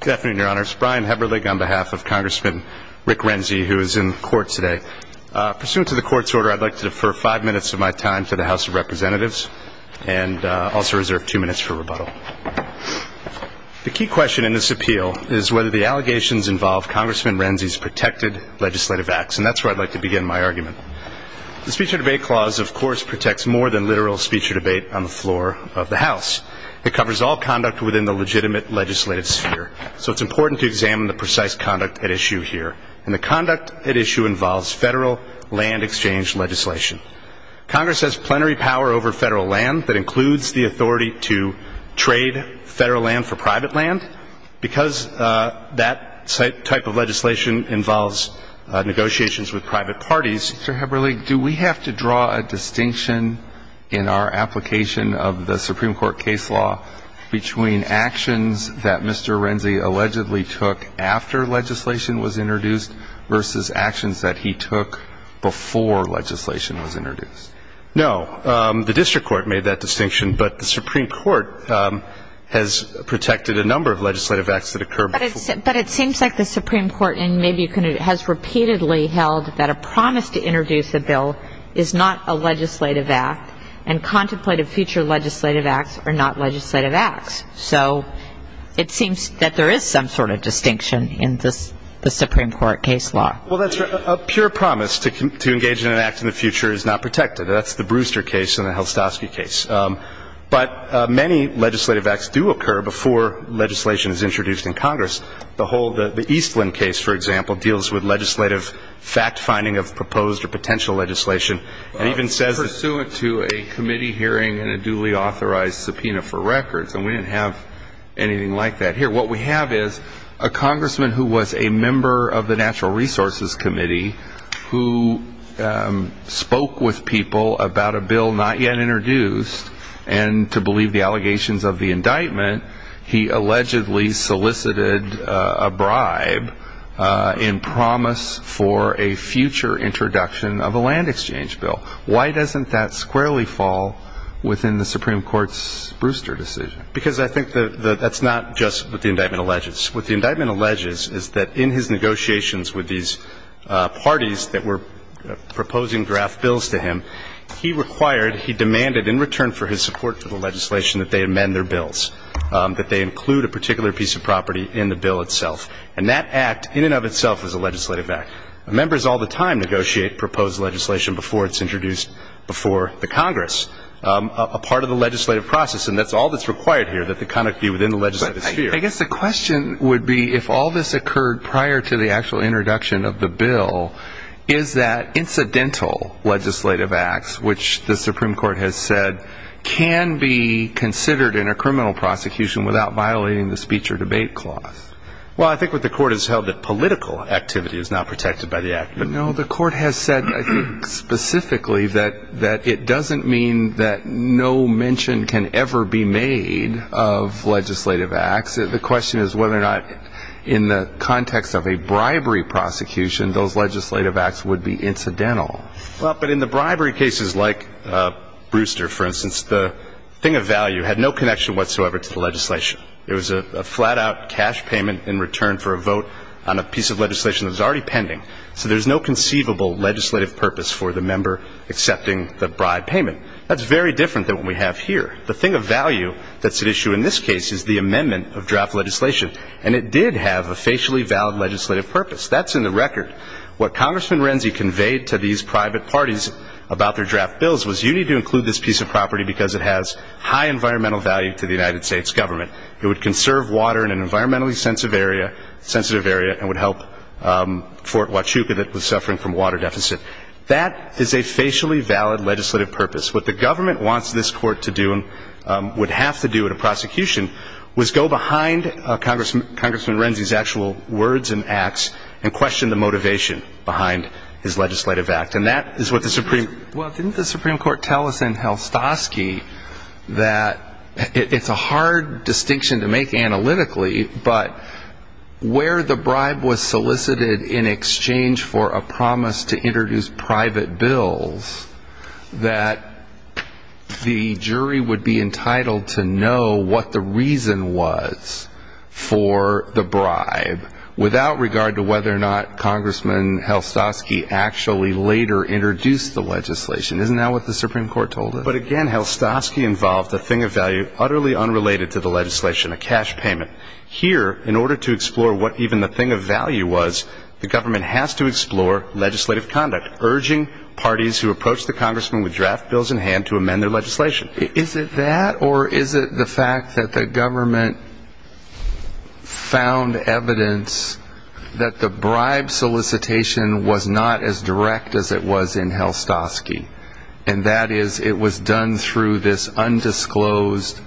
Good afternoon, your honors. Brian Heberlig on behalf of Congressman Rick Renzi, who is in court today. Pursuant to the court's order, I'd like to defer five minutes of my time to the House of Representatives, and also reserve two minutes for rebuttal. The key question in this appeal is whether the allegations involve Congressman Renzi's protected legislative acts, and that's where I'd like to begin my argument. The Speech or Debate Clause, of course, protects more than literal speech or debate on the floor of the House. It covers all conduct within the legitimate legislative sphere, so it's important to examine the precise conduct at issue here. And the conduct at issue involves federal land exchange legislation. Congress has plenary power over federal land that includes the authority to trade federal land for private land. Because that type of legislation involves negotiations with private parties. Mr. Heberlig, do we have to draw a distinction in our application of the Supreme Court case law between actions that Mr. Renzi allegedly took after legislation was introduced versus actions that he took before legislation was introduced? No. The District Court made that distinction, but the Supreme Court has protected a number of legislative acts that occur before But it seems like the Supreme Court has repeatedly held that a promise to introduce a bill is not a legislative act, and contemplative future legislative acts are not legislative acts. So it seems that there is some sort of distinction in the Supreme Court case law. Well, that's right. A pure promise to engage in an act in the future is not protected. That's the Brewster case and the Helstowski case. But many legislative acts do occur before legislation is introduced in Congress. The whole, the Eastland case, for example, deals with legislative fact-finding of proposed or potential legislation, and even says pursuant to a committee hearing and a duly authorized subpoena for records. And we didn't have anything like that here. What we have is a congressman who was a member of the Natural Resources Committee who spoke with people about a bill not yet introduced, and to believe the allegations of the indictment, he allegedly solicited a bribe in promise for a future introduction of a land exchange bill. Why doesn't that squarely fall within the Supreme Court's Brewster decision? Because I think that that's not just what the indictment alleges. What the indictment alleges is that in his negotiations with these parties that were proposing draft bills to him, he required, he demanded in return for his support for the legislation that they amend their bills, that they include a particular piece of property in the bill itself. And that act in and of itself is a legislative act. Members all the time negotiate proposed legislation before it's introduced before the Congress. A part of the legislative process, and that's all that's required here, that the conduct be within the legislative sphere. I guess the question would be, if all this occurred prior to the actual introduction of the bill, is that incidental legislative acts, which the Supreme Court has said can be considered in a criminal prosecution without violating the speech or debate clause? Well, I think what the court has held that political activity is not protected by the act. No, the court has said specifically that it doesn't mean that no mention can ever be made of legislative acts. The question is whether or not in the context of a bribery prosecution, those legislative acts would be incidental. Well, but in the bribery cases like Brewster, for instance, the thing of value had no connection whatsoever to the legislation. It was a flat-out cash payment in return for a vote on a piece of legislation that was already pending. So there's no conceivable legislative purpose for the member accepting the bribe payment. That's very different than what we have here. The thing of value that's at issue in this case is the amendment of draft legislation. And it did have a facially valid legislative purpose. That's in the record. What Congressman Renzi conveyed to these private parties about their draft bills was, you need to include this piece of property because it has high environmental value to the United States government. It would conserve water in an environmentally sensitive area, and would help Fort Huachuca that was suffering from a water deficit. That is a facially valid legislative purpose. What the government wants this court to do and would have to do in a prosecution was go behind Congressman Renzi's actual words and acts and question the motivation behind his legislative act. And that is what the Supreme Court... Congressman Helstosky, that it's a hard distinction to make analytically, but where the bribe was solicited in exchange for a promise to introduce private bills, that the jury would be entitled to know what the reason was for the bribe, without regard to whether or not Congressman Helstosky actually later introduced the legislation. Isn't that what the Supreme Court told us? But again, Helstosky involved a thing of value utterly unrelated to the legislation, a cash payment. Here, in order to explore what even the thing of value was, the government has to explore legislative conduct, urging parties who approach the Congressman with draft bills in hand to amend their legislation. Is it that, or is it the fact that the government found evidence that the bribe solicitation was not as direct as it was in Helstosky? And that is, it was done through this undisclosed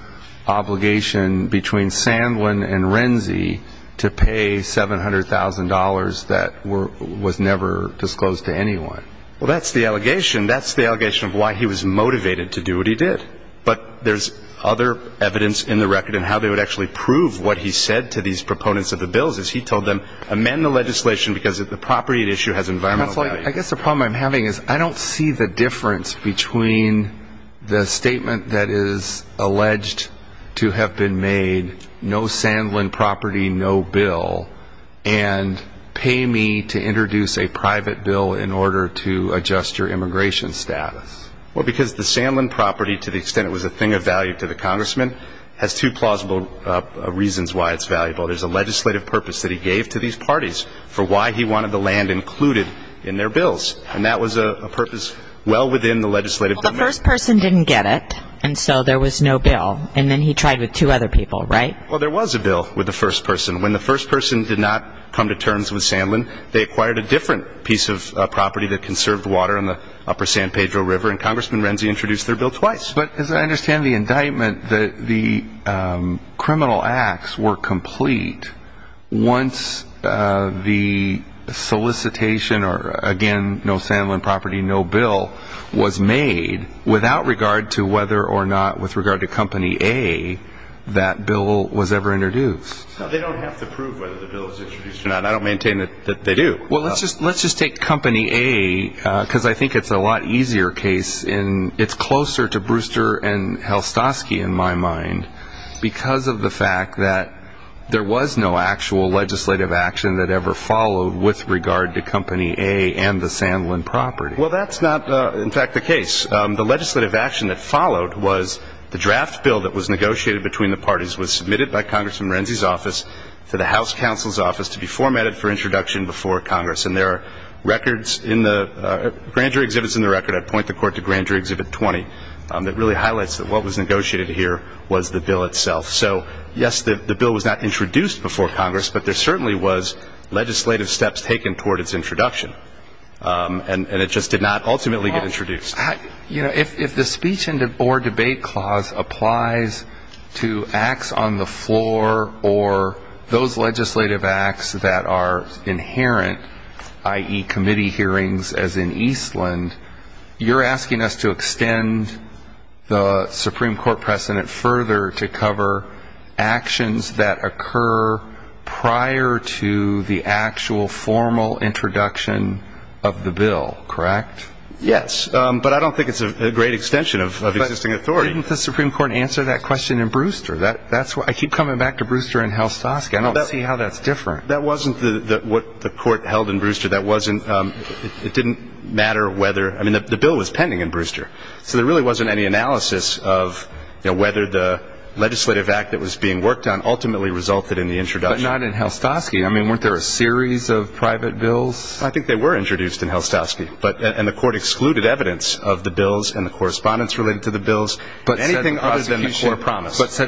obligation between Sandlin and Renzi to pay $700,000 that was never disclosed to anyone? Well, that's the allegation. That's the allegation of why he was motivated to do what he did. But there's other evidence in the record in how they would actually prove what he said to these proponents of the bills, is he told them, amend the legislation because of the property at issue has environmental value. I guess the problem I'm having is I don't see the difference between the statement that is alleged to have been made, no Sandlin property, no bill, and pay me to introduce a private bill in order to adjust your immigration status. Well, because the Sandlin property, to the extent it was a thing of value to the Congressman, has two plausible reasons why it's valuable. There's a legislative purpose that he gave to these parties for why he wanted the land included in their bills. And that was a purpose well within the legislative domain. Well, the first person didn't get it, and so there was no bill. And then he tried with two other people, right? Well, there was a bill with the first person. When the first person did not come to terms with Sandlin, they acquired a different piece of property that conserved water on the upper San Pedro River, and Congressman Renzi introduced their bill twice. But as I understand the indictment, the criminal acts were complete once the solicitation, or again, no Sandlin property, no bill, was made without regard to whether or not, with regard to Company A, that bill was ever introduced. They don't have to prove whether the bill was introduced or not. I don't maintain that they do. Well, let's just take Company A, because I think it's a lot easier case. It's closer to Brewster and Helstosky, in my mind, because of the fact that there was no actual legislative action that ever followed with regard to Company A and the Sandlin property. Well, that's not, in fact, the case. The legislative action that followed was the draft bill that was negotiated between the parties was submitted by Congressman Renzi's office to the House Counsel's office to be formatted for introduction before Congress. And there are records in the, Grand Jury Exhibit's in the record, I'd point the court to Grand Jury Exhibit 20, that really highlights that what was negotiated here was the bill itself. So yes, the bill was not introduced before Congress, but there certainly was legislative steps taken toward its introduction. And it just did not ultimately get introduced. If the speech or debate clause applies to acts on the floor or those legislative acts that are inherent, i.e. committee hearings as in Eastland, you're asking us to extend the Supreme Court precedent further to cover actions that occur prior to the actual formal introduction of the bill, correct? Yes, but I don't think it's a great extension of existing authority. But didn't the Supreme Court answer that question in Brewster? I keep coming back to Brewster and Helstosky. I don't see how that's different. That wasn't what the court held in Brewster. That wasn't, it didn't matter whether, I mean the bill was pending in Brewster. So there really wasn't any analysis of whether the legislative act that was being worked on ultimately resulted in the introduction. But not in Helstosky. I mean, weren't there a series of private bills? I think they were introduced in Helstosky. And the court excluded evidence of the bills and the correspondence related to the bills. But said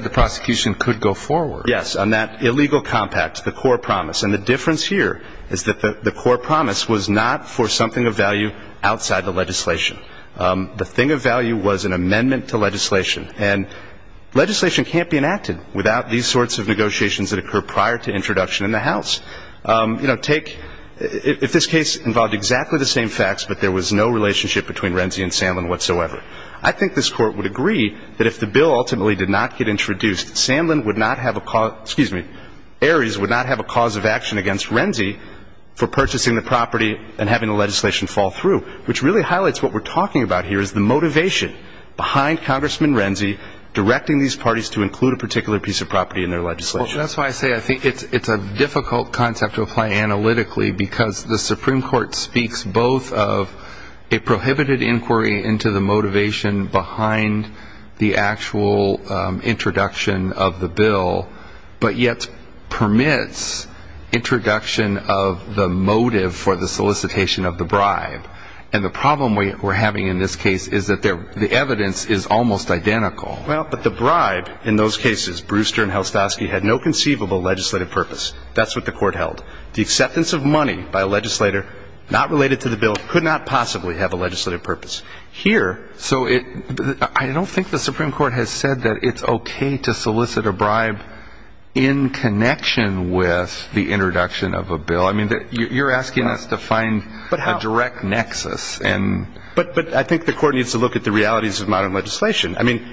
the prosecution could go forward. Yes, on that illegal compact, the core promise. And the difference here is that the core promise was not for something of value outside the legislation. The thing of value was an amendment to legislation. And legislation can't be enacted without these sorts of negotiations that occur prior to introduction in the House. You know, take, if this case involved exactly the same facts but there was no relationship between Renzi and Sandlin whatsoever, I think this court would agree that if the bill ultimately did not get introduced, Sandlin would not have a cause, excuse me, Ares would not have a cause of action against Renzi for purchasing the property and having the legislation fall through. Which really highlights what we're talking about here is the motivation behind Congressman Renzi directing these parties to include a particular piece of property in their legislation. Well, that's why I say I think it's a difficult concept to apply analytically because the Supreme Court speaks both of a prohibited inquiry into the motivation behind the actual introduction of the bill, but yet permits introduction of the motive for the solicitation of the bribe. And the problem we're having in this case is that the evidence is almost identical. Well, but the bribe in those cases, Brewster and Helstosky, had no conceivable legislative purpose. That's what the court held. The acceptance of money by a legislator not related to the bill could not possibly have a legislative purpose. Here, so it, I don't think the Supreme Court is saying that it's okay to solicit a bribe in connection with the introduction of a bill. I mean, you're asking us to find a direct nexus. But I think the court needs to look at the realities of modern legislation. I mean,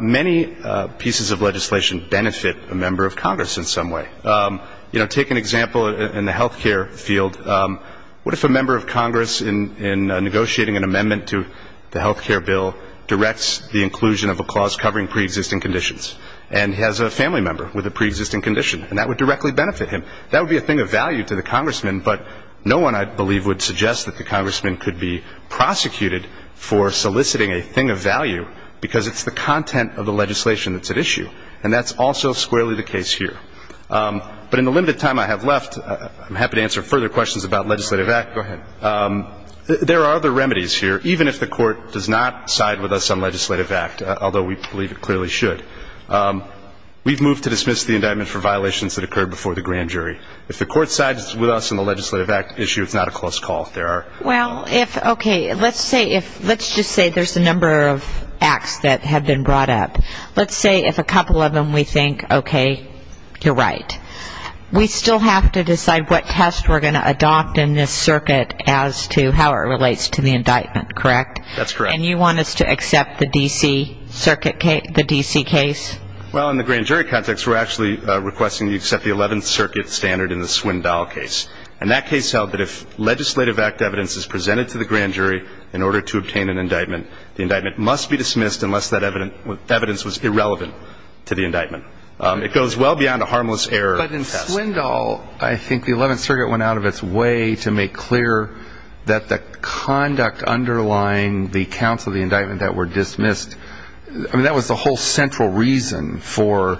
many pieces of legislation benefit a member of Congress in some way. You know, take an example in the health care field. What if a member of Congress in negotiating an amendment to the health care bill directs the inclusion of a clause covering pre-existing conditions? And he has a family member with a pre-existing condition, and that would directly benefit him. That would be a thing of value to the congressman, but no one, I believe, would suggest that the congressman could be prosecuted for soliciting a thing of value because it's the content of the legislation that's at issue. And that's also squarely the case here. But in the limited time I have left, I'm happy to answer further questions about legislative act. Go ahead. There are other remedies here, even if the court does not side with us on legislative act, although we believe it clearly should. We've moved to dismiss the indictment for violations that occurred before the grand jury. If the court sides with us on the legislative act issue, it's not a close call. There are... Well, if, okay, let's say if, let's just say there's a number of acts that have been brought up. Let's say if a couple of them we think, okay, you're right. We still have to decide what test we're going to adopt in this circuit as to how it relates to the indictment, correct? That's correct. And you want us to accept the D.C. circuit case, the D.C. case? Well, in the grand jury context, we're actually requesting that you accept the 11th Circuit standard in the Swindoll case. And that case held that if legislative act evidence is presented to the grand jury in order to obtain an indictment, the indictment must be dismissed unless that evidence was irrelevant to the indictment. It goes well beyond a harmless error test. But in Swindoll, I think the 11th Circuit went out of its way to make clear that the conduct underlying the counts of the indictment that were dismissed, I mean, that was the whole central reason for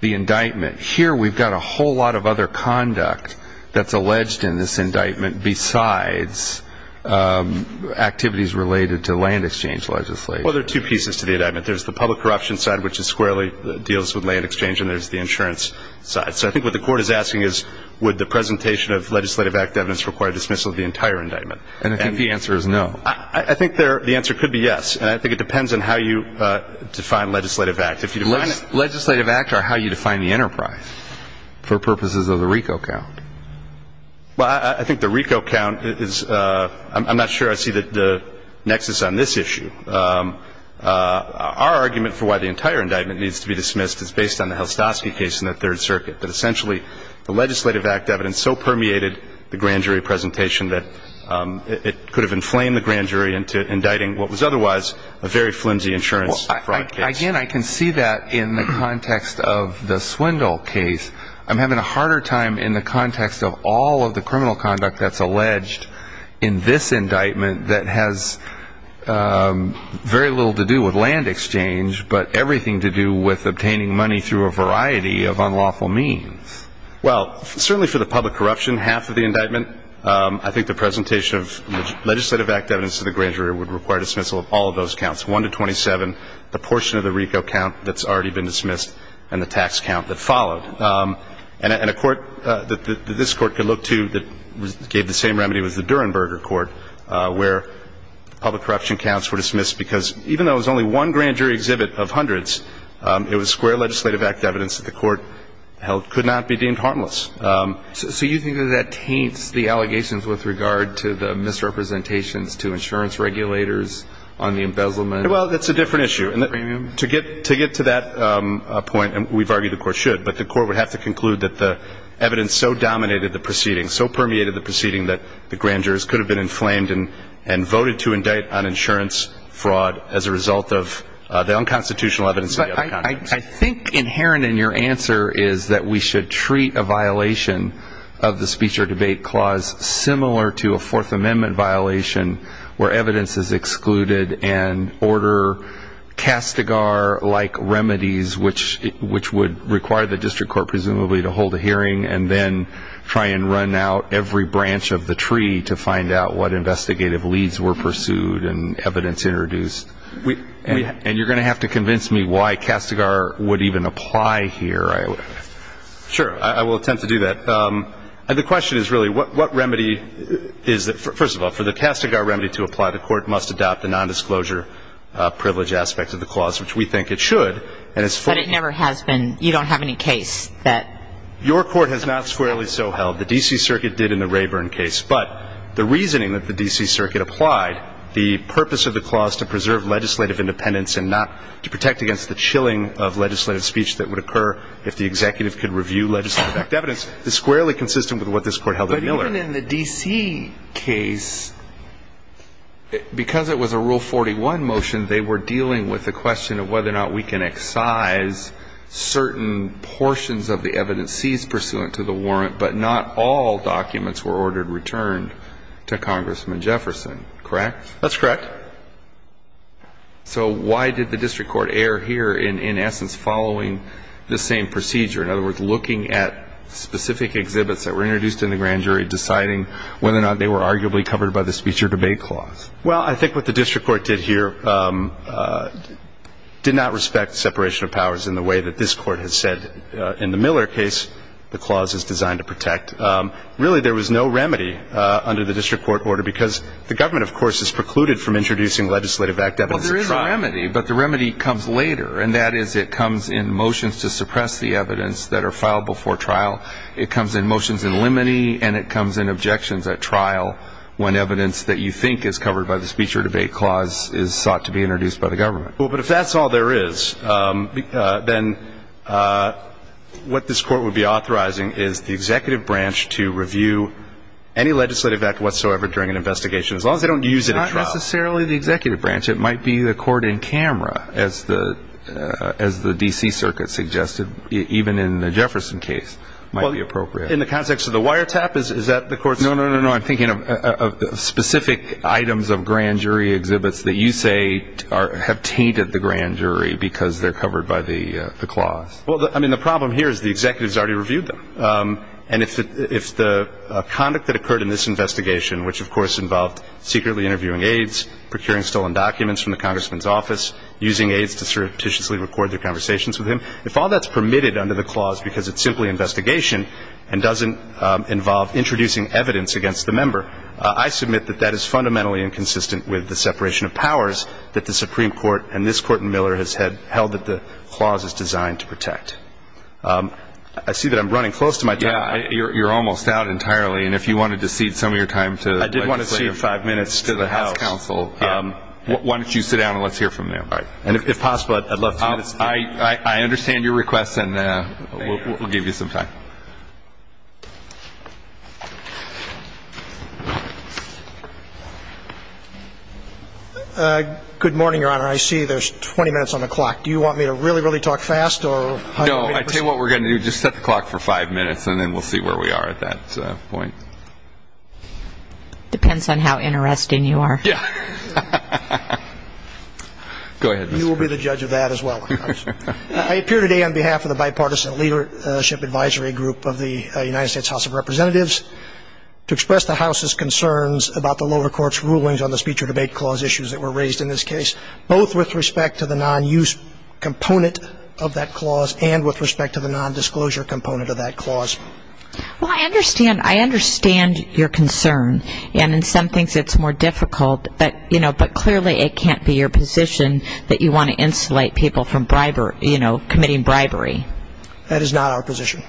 the indictment. Here, we've got a whole lot of other conduct that's alleged in this indictment besides activities related to land exchange legislation. Well, there are two pieces to the indictment. There's the public corruption side, which is squarely deals with land exchange, and there's the insurance side. So I think what the court is asking is, would the presentation of legislative act evidence require dismissal of the entire indictment? And I think the answer is no. I think the answer could be yes. And I think it depends on how you define legislative act. If you define it – Legislative act are how you define the enterprise for purposes of the RICO count. Well, I think the RICO count is – I'm not sure I see the nexus on this issue. Our argument for why the entire indictment needs to be dismissed is based on the Helstosky case in the Third Circuit, that essentially the legislative act evidence so permeated the grand jury presentation that it could have inflamed the grand jury into indicting what was otherwise a very flimsy insurance fraud case. Well, again, I can see that in the context of the Swindle case. I'm having a harder time in the context of all of the criminal conduct that's alleged in this indictment that has very little to do with land exchange, but everything to do with obtaining money through a variety of unlawful means. Well, certainly for the public corruption, half of the indictment, I think the presentation of legislative act evidence to the grand jury would require dismissal of all of those counts, 1 to 27, the portion of the RICO count that's already been dismissed, and the tax count that followed. And a court that this court could look to that gave the same remedy was the Durenberger court where public corruption counts were dismissed because even though it was only one grand jury exhibit of hundreds, it was square legislative act evidence that the court held could not be deemed harmless. So you think that that taints the allegations with regard to the misrepresentations to insurance regulators on the embezzlement? Well, that's a different issue. And to get to that point, and we've argued the court should, but the court would have to conclude that the evidence so dominated the proceedings, so permeated the proceedings that the grand jurors could have been inflamed and voted to indict on insurance fraud as a result of the unconstitutional evidence of the other count cases. I think inherent in your answer is that we should treat a violation of the speech or debate clause similar to a Fourth Amendment violation where evidence is excluded and order Castigar-like remedies, which would require the district court presumably to hold a hearing and then try and run out every branch of the tree to find out what investigative leads were pursued and evidence introduced. And you're going to have to convince me why Castigar would even apply here. Sure. I will attempt to do that. The question is really what remedy is that, first of all, for the Castigar remedy to apply, the court must adopt the nondisclosure privilege aspect of the clause, which we think it should. But it never has been. You don't have any case that... Your court has not squarely so held. The D.C. Circuit did in the Rayburn case. But the reasoning that the D.C. Circuit applied, the purpose of the clause to preserve legislative independence and not to protect against the chilling of legislative speech that would occur if the executive could review legislative backed evidence, is squarely consistent with what this Court held in Miller. But even in the D.C. case, because it was a Rule 41 motion, they were dealing with the question of whether or not we can excise certain portions of the evidence seized pursuant to the warrant, but not all documents were ordered returned to Congressman Jefferson. Correct? That's correct. So why did the district court err here in essence following the same procedure? In other words, looking at specific exhibits that were introduced in the grand jury, deciding whether or not they were arguably covered by the speech or debate clause? Well, I think what the district court did here did not respect separation of powers in the way that this Court has said in the Miller case the clause is designed to protect. Really there was no remedy under the district court order because the government, of course, is precluded from introducing legislative backed evidence at trial. Well, there is a remedy, but the remedy comes later. And that is it comes in motions to suppress the evidence that are filed before trial. It comes in motions in limine and it by the speech or debate clause is sought to be introduced by the government. Well, but if that's all there is, then what this court would be authorizing is the executive branch to review any legislative act whatsoever during an investigation as long as they don't use it at trial. Not necessarily the executive branch. It might be the court in camera, as the D.C. Circuit suggested even in the Jefferson case might be appropriate. In the context of the wiretap, is that the court's? No, no, no. I'm thinking of specific items of grand jury exhibits that you say have tainted the grand jury because they're covered by the clause. Well, I mean, the problem here is the executive has already reviewed them. And if the conduct that occurred in this investigation, which, of course, involved secretly interviewing aides, procuring stolen documents from the congressman's office, using aides to surreptitiously record their conversations with him, if all that's permitted under the clause because it's simply investigation and doesn't involve introducing evidence against the member, I submit that that is fundamentally inconsistent with the separation of powers that the Supreme Court and this court in Miller has held that the clause is designed to protect. I see that I'm running close to my time. Yeah. You're almost out entirely. And if you wanted to cede some of your time to legislative counsel. I did want to cede five minutes to the House. Yeah. Why don't you sit down and let's hear from you. All right. And if possible, I'd love to hear this. I understand your request. And we'll give you some time. Good morning, Your Honor. I see there's 20 minutes on the clock. Do you want me to really, really talk fast? No. I tell you what we're going to do. Just set the clock for five minutes and then we'll see where we are at that point. Depends on how interesting you are. Yeah. Go ahead. You will be the judge of that as well. I appear today on behalf of the bipartisan leadership advisory group of the United States House of Representatives to express the House's concerns about the lower court's rulings on the speech or debate clause issues that were raised in this case, both with respect to the non-use component of that clause and with respect to the non-disclosure component of that clause. Well, I understand. I understand your concern. And in some things it's more difficult. But clearly it can't be your position that you want to insulate people from bribery, you know, committing bribery. That is not our position.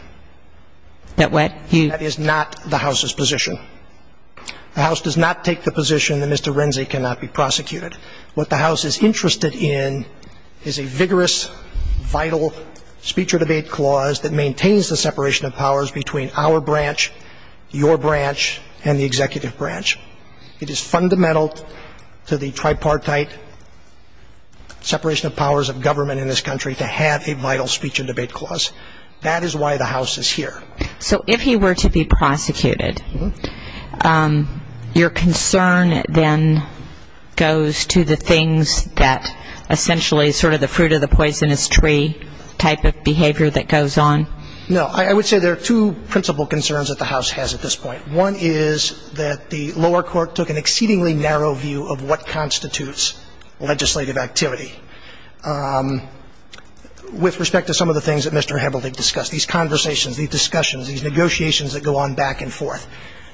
That what? You? That is not the House's position. The House does not take the position that Mr. Renzi cannot be prosecuted. What the House is interested in is a vigorous, vital speech or debate clause that maintains the separation of powers between our branch, your branch, and the executive branch. It is fundamental to the tripartite separation of powers of government in this country to have a vital speech or debate clause. That is why the House is here. So if he were to be prosecuted, your concern then goes to the things that essentially sort of the fruit of the poisonous tree type of behavior that goes on? No. I would say there are two principal concerns that the House has at this point. One is that the lower court took an exceedingly narrow view of what constitutes legislative activity with respect to some of the things that Mr. Hebelding discussed, these conversations, these discussions, these negotiations that go on back and forth.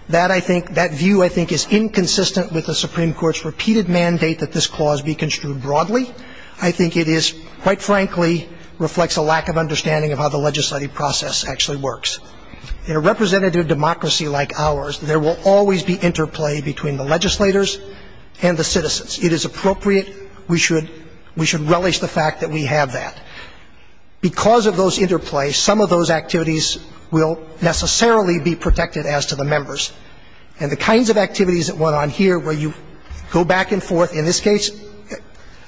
That I think, that view I think is inconsistent with the Supreme Court's repeated mandate that this clause be construed broadly. I think it is, quite frankly, reflects a lack of understanding of how the legislative process actually works. In a representative democracy like ours, there will always be interplay between the legislators and the citizens. It is appropriate. We should, we should relish the fact that we have that. Because of those interplays, some of those activities will necessarily be protected as to the members. And the kinds of activities that went on here where you go back and forth, in this case,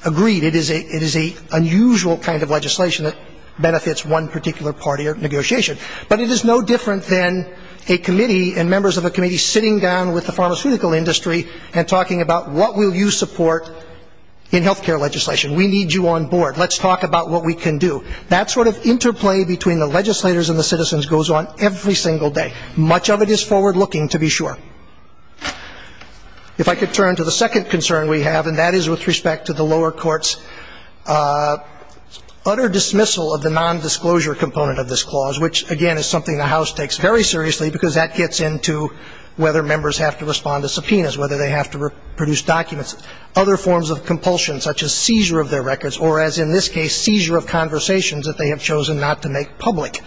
agreed, it is a, it is a unusual kind of legislation that benefits one particular party or negotiation. But it is no different than a committee and members of a committee sitting down with the pharmaceutical industry and talking about, what will you support in health care legislation? We need you on board. Let's talk about what we can do. That sort of interplay between the legislators and the citizens goes on every single day. Much of it is forward-looking, to be sure. If I could turn to the second concern we have, and that is with respect to the lower court's utter dismissal of the nondisclosure component of this clause, which, again, is something the House takes very seriously, because that gets into whether members have to respond to subpoenas, whether they have to produce documents, other forms of compulsion, such as seizure of their records, or, as in this case, seizure of conversations that they have chosen not to make public.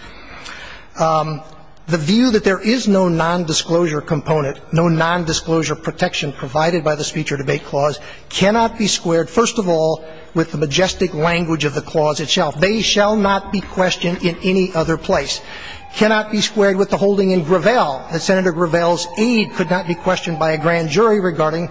The view that there is no nondisclosure component, no nondisclosure protection provided by the the clause itself. They shall not be questioned in any other place. Cannot be squared with the holding in Gravel that Senator Gravel's aid could not be questioned by a grand jury regarding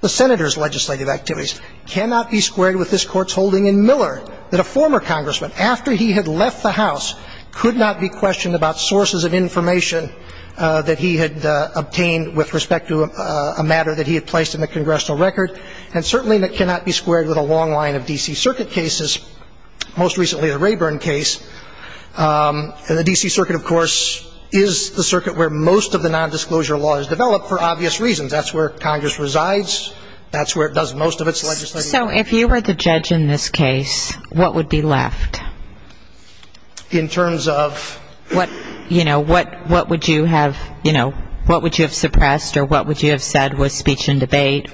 the senator's legislative activities. Cannot be squared with this Court's holding in Miller that a former congressman, after he had left the House, could not be questioned about sources of information that he had obtained with respect to a matter that he had placed in the congressional record, and certainly that cannot be squared with a long line of D.C. Circuit cases, most recently the Rayburn case. The D.C. Circuit, of course, is the circuit where most of the nondisclosure law is developed for obvious reasons. That's where Congress resides. That's where it does most of its legislative activities. So if you were the judge in this case, what would be left? In terms of? What, you know, what would you have, you know, what would you have suppressed or what would you have eliminated?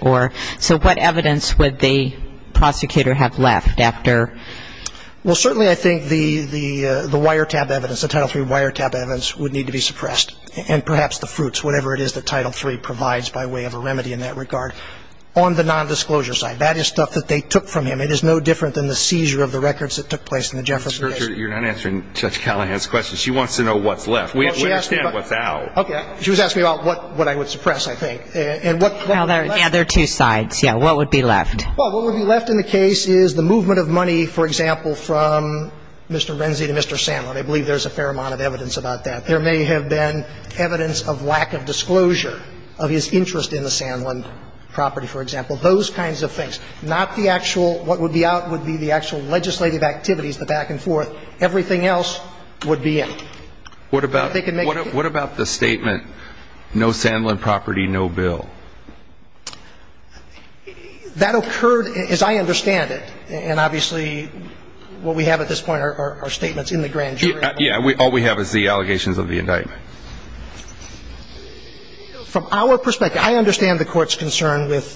So what evidence would the prosecutor have left after? Well, certainly I think the wiretap evidence, the Title III wiretap evidence would need to be suppressed. And perhaps the fruits, whatever it is that Title III provides by way of a remedy in that regard. On the nondisclosure side, that is stuff that they took from him. It is no different than the seizure of the records that took place in the Jefferson case. You're not answering Judge Callahan's question. She wants to know what's left. We understand what's out. Okay. She was asking about what I would suppress, I think. Well, there are two sides. Yeah. What would be left? Well, what would be left in the case is the movement of money, for example, from Mr. Renzi to Mr. Sandlin. I believe there's a fair amount of evidence about that. There may have been evidence of lack of disclosure of his interest in the Sandlin property, for example. Those kinds of things. Not the actual, what would be out would be the actual legislative activities, the back and forth. Everything else would be in. What about the statement, no Sandlin property, no bill? That occurred, as I understand it, and obviously what we have at this point are statements in the grand jury. Yeah. All we have is the allegations of the indictment. From our perspective, I understand the Court's concern with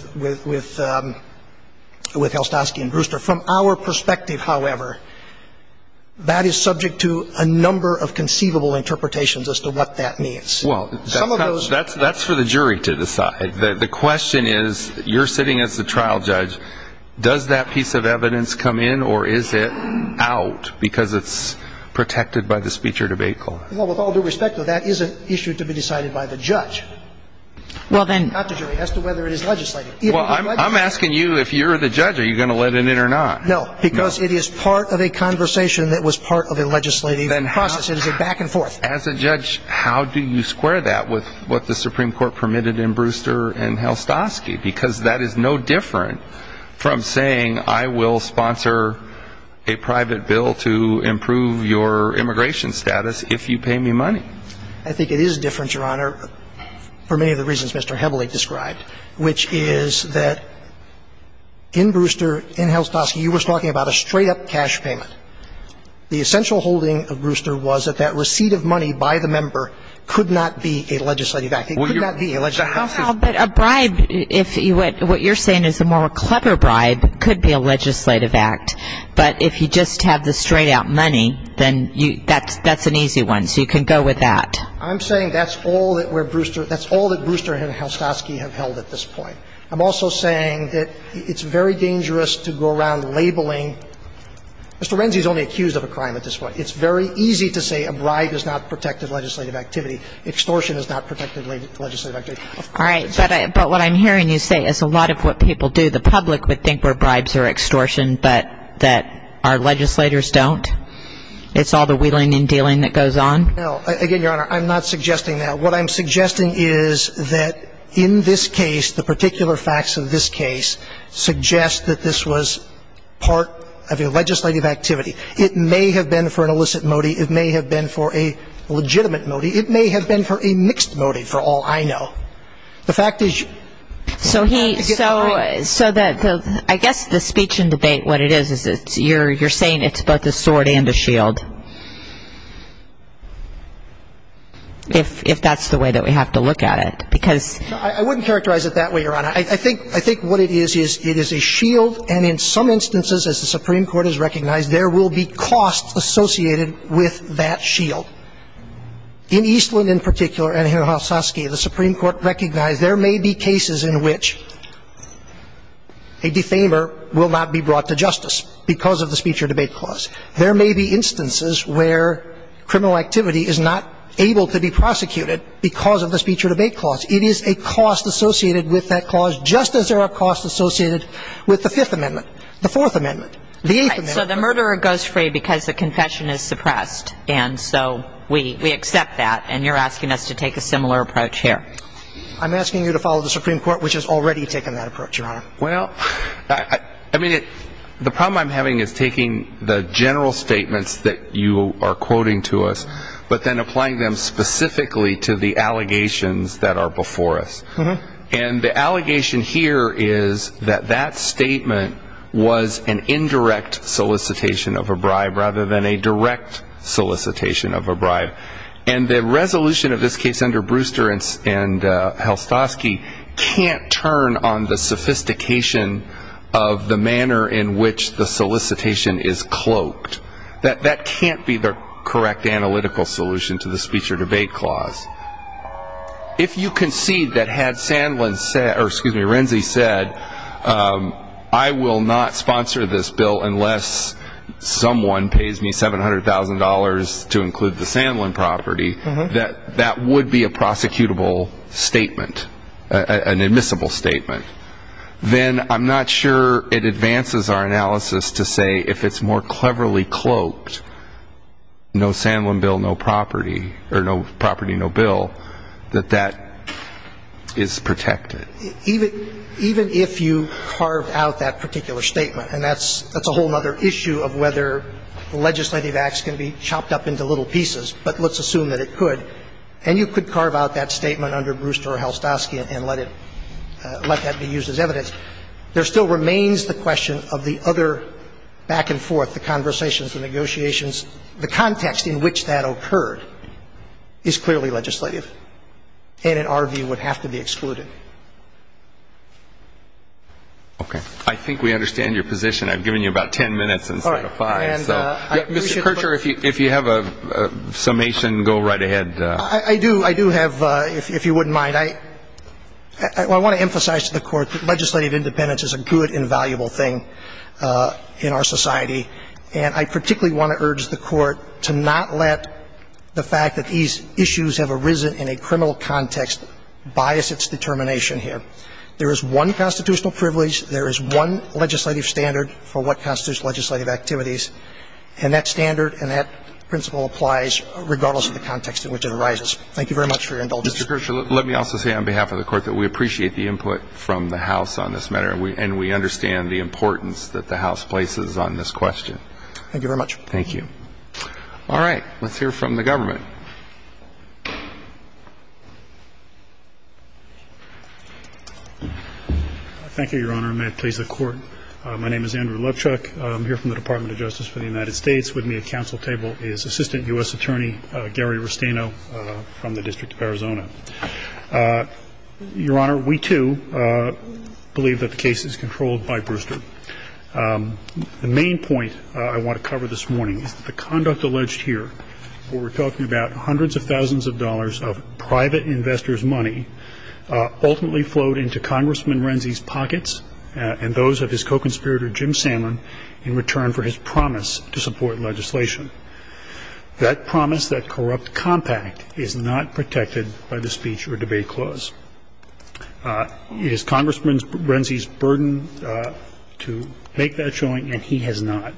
Helstosky and Brewster. From our perspective, however, that is subject to a number of conceivable interpretations as to what that means. Well, that's for the jury to decide. The question is, you're sitting as the trial judge. Does that piece of evidence come in or is it out because it's protected by the speech or debate court? Well, with all due respect, that is an issue to be decided by the judge, not the jury, as to whether it is legislative. Well, I'm asking you if you're the judge, are you going to let it in or not? No, because it is part of a conversation that was part of a legislative process. It is a back and forth. As a judge, how do you square that with what the Supreme Court permitted in Brewster and Helstosky? Because that is no different from saying, I will sponsor a private bill to improve your immigration status if you pay me money. I think it is different, Your Honor, for many of the reasons Mr. Heavily described, which is that in Brewster, in Helstosky, you were talking about a straight-up cash payment. The essential holding of Brewster was that that receipt of money by the member could not be a legislative act. It could not be a legislative act. How about a bribe? What you're saying is a more clever bribe could be a legislative act. But if you just have the straight-out money, then that's an easy one. So you can go with that. I'm saying that's all that Brewster and Helstosky have held at this point. I'm also saying that it's very dangerous to go around labeling. Mr. Renzi is only accused of a crime at this point. It's very easy to say a bribe is not protective legislative activity. Extortion is not protective legislative activity. All right. But what I'm hearing you say is a lot of what people do, the public, would think were bribes or extortion, but that our legislators don't? It's all the wheeling and dealing that goes on? No. Again, Your Honor, I'm not suggesting that. What I'm suggesting is that in this case, the particular facts of this case suggest that this was part of a legislative activity. It may have been for an illicit motive. It may have been for a legitimate motive. It may have been for a mixed motive, for all I know. The fact is you get the right... So I guess the speech and debate, what it is, is you're saying it's both a sword and a shield, if that's the way that we have to look at it, because... I wouldn't characterize it that way, Your Honor. I think what it is, is it is a shield, and in some instances, as the Supreme Court has recognized, there will be costs associated with that shield. In Eastland in particular, and here in Houskoski, the Supreme Court recognized there may be cases in which a defamer will not be brought to justice because of the speech or debate clause. There may be instances where criminal activity is not able to be prosecuted because of the speech or debate clause. It is a cost associated with that clause, just as there are costs associated with the Fifth Amendment, the Fourth Amendment, the Eighth Amendment. Right. So the murderer goes free because the confession is suppressed, and so we accept that, and you're asking us to take a similar approach here. I'm asking you to follow the Supreme Court, which has already taken that approach, Your Honor. Well, I mean, the problem I'm having is taking the general statements that you are quoting to us, but then applying them specifically to the allegations that are before us. And the allegation here is that that statement was an indirect solicitation of a bribe, rather than a direct solicitation of a bribe. And the resolution of this case under Brewster and Houskoski can't turn on the sophistication of the manner in which the solicitation is If you concede that had Sandlin said, or excuse me, Renzi said, I will not sponsor this bill unless someone pays me $700,000 to include the Sandlin property, that would be a prosecutable statement, an admissible statement. Then I'm not sure it advances our no Sandlin bill, no property, or no property, no bill, that that is protected. Even if you carved out that particular statement, and that's a whole other issue of whether legislative acts can be chopped up into little pieces, but let's assume that it could, and you could carve out that statement under Brewster or Houskoski and let it be used as evidence, there still remains the question of the other back and forth, the conversations, the negotiations, the context in which that occurred is clearly legislative and, in our view, would have to be excluded. Okay. I think we understand your position. I've given you about ten minutes instead of five. All right. And I appreciate the question. Mr. Kircher, if you have a summation, go right ahead. I do. I do have, if you wouldn't mind. I want to emphasize to the Court that legislative I particularly want to urge the Court to not let the fact that these issues have arisen in a criminal context bias its determination here. There is one constitutional privilege, there is one legislative standard for what constitutes legislative activities, and that standard and that principle applies regardless of the context in which it arises. Thank you very much for your indulgence. Mr. Kircher, let me also say on behalf of the Court that we appreciate the input from the House on this matter, and we understand the importance that the House places on this question. Thank you very much. Thank you. All right. Let's hear from the government. Thank you, Your Honor. May it please the Court. My name is Andrew Lovechuck. I'm here from the Department of Justice for the United States. With me at council table is Assistant U.S. Attorney Gary Restaino from the District of Arizona. Your Honor, we, too, believe that the case is controlled by Brewster. The main point I want to cover this morning is that the conduct alleged here, where we're talking about hundreds of thousands of dollars of private investors' money, ultimately flowed into Congressman Renzi's pockets and those of his co-conspirator Jim Salmon in return for his promise to support legislation. That promise, that corrupt compact, is not protected by the Speech or Debate Clause. It is Congressman Renzi's burden to make that showing, and he has not.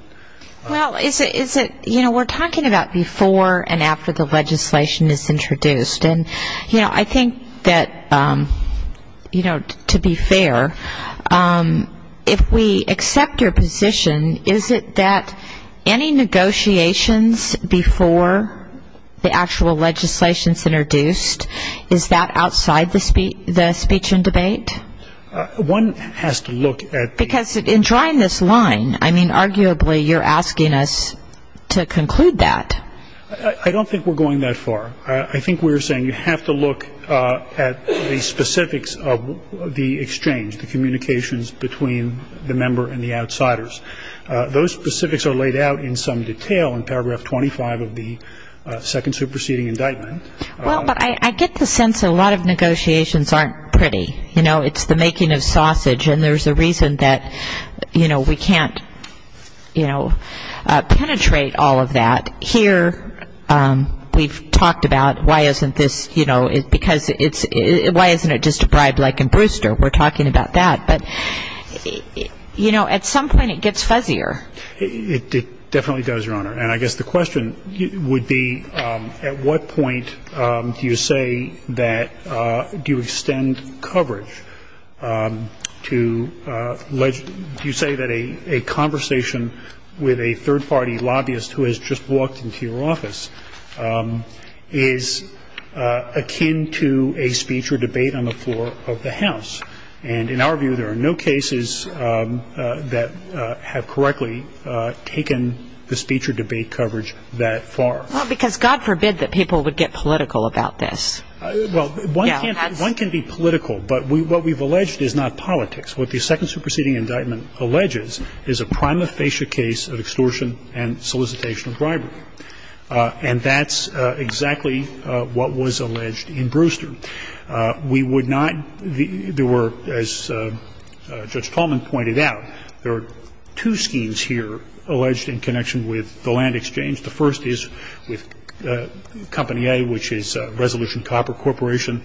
Well, is it, you know, we're talking about before and after the legislation is introduced. And, you know, I think that, you know, to be fair, if we accept your position, is it that any negotiations before the actual legislation is not introduced, is that outside the speech and debate? One has to look at the Because in drawing this line, I mean, arguably you're asking us to conclude that. I don't think we're going that far. I think we're saying you have to look at the specifics of the exchange, the communications between the member and the outsiders. Those specifics are laid out in some detail in paragraph 25 of the Second Superseding Indictment. Well, but I get the sense a lot of negotiations aren't pretty. You know, it's the making of sausage, and there's a reason that, you know, we can't, you know, penetrate all of that. Here we've talked about why isn't this, you know, because it's why isn't it just a bribe like in Brewster? We're talking about that. But, you know, at some point it gets fuzzier. It definitely does, Your Honor. And I guess the question would be at what point do you say that do you extend coverage to legit you say that a conversation with a third-party lobbyist who has just walked into your office is akin to a speech or debate on the floor of the House. And in our view, there are no cases that have correctly taken the speech or debate coverage that far. Well, because God forbid that people would get political about this. Well, one can be political, but what we've alleged is not politics. What the Second Superseding Indictment alleges is a prima facie case of extortion and solicitation of bribery. And that's exactly what was alleged in Brewster. We would not, there were, as Judge Tallman pointed out, there are two schemes here alleged in connection with the land exchange. The first is with Company A, which is Resolution Copper Corporation.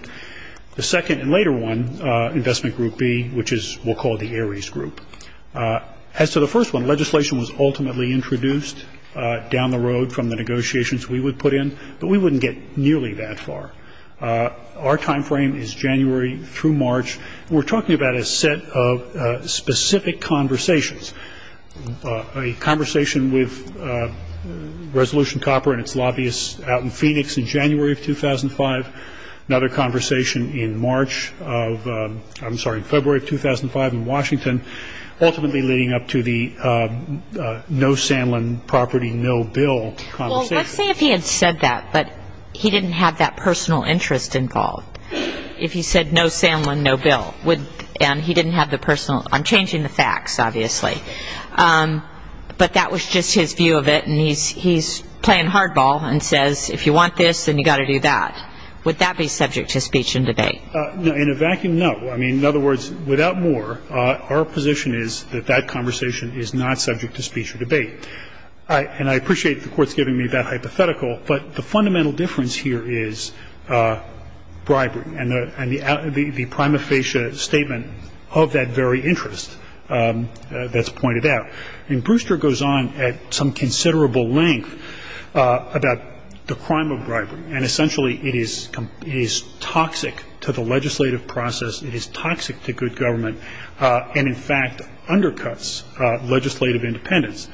The second and later one, Investment Group B, which is what we'll call the Ares Group. As to the first one, legislation was ultimately introduced down the road from the negotiations we would put in, but we wouldn't get nearly that far. Our time frame is January through March, and we're talking about a set of specific conversations, a conversation with Resolution Copper and its lobbyists out in Phoenix in January of 2005, another conversation in March of, I'm sorry, February of 2005 in Washington, ultimately leading up to the no Sanlin property, no bill conversation. Well, let's say if he had said that, but he didn't have that personal interest involved. If he said no Sanlin, no bill, and he didn't have the personal, I'm changing the facts, obviously, but that was just his view of it, and he's playing hardball and saying, if you want this, then you've got to do that. Would that be subject to speech and debate? In a vacuum, no. I mean, in other words, without more, our position is that that conversation is not subject to speech or debate. And I appreciate the Court's giving me that hypothetical, but the fundamental difference here is bribery and the prima facie statement of that very interest that's pointed out. And Brewster goes on at some considerable length about the crime of bribery, and essentially it is toxic to the legislative process, it is toxic to good government, and in fact undercuts legislative independence,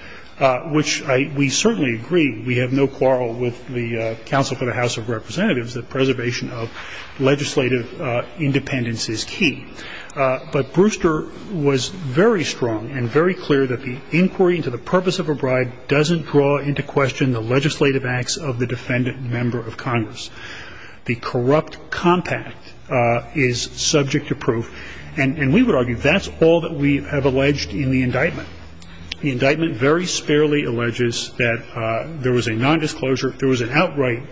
which we certainly agree, we have no quarrel with the Council for the House of Representatives, that preservation of legislative independence is key. But Brewster was very strong and very clear that the inquiry into the purpose of a bribe doesn't draw into question the legislative acts of the defendant member of Congress. The corrupt compact is subject to proof, and we would argue that's all that we have alleged in the indictment. The indictment very sparingly alleges that there was a nondisclosure, there was an outright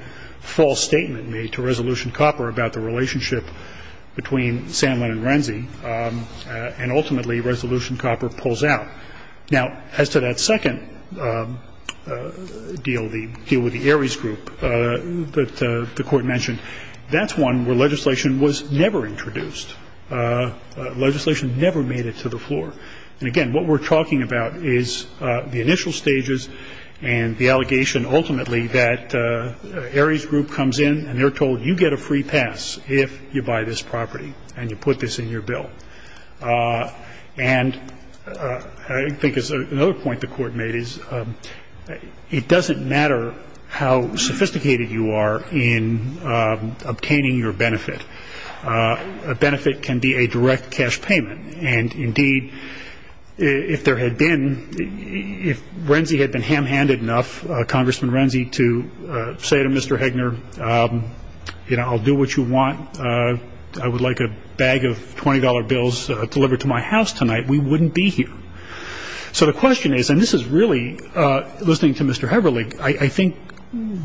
false statement made to Resolution Copper about the relationship between Sanlin and Renzi, and ultimately Resolution Copper pulls out. Now, as to that second deal, the deal with the Ares Group that the Court mentioned, that's one where legislation was never introduced. Legislation never made it to the floor. And again, what we're talking about is the initial stages and the allegation ultimately that Ares Group comes in and they're saying, you know, we're going to buy this property, and you put this in your bill. And I think another point the Court made is it doesn't matter how sophisticated you are in obtaining your benefit. A benefit can be a direct cash payment. And indeed, if there had been, if Renzi had been ham-handed enough, Congressman Renzi to say to Mr. Hegner, you know, I'll do what you want. I would like a bag of $20 bills delivered to my house tonight. We wouldn't be here. So the question is, and this is really, listening to Mr. Heberlig, I think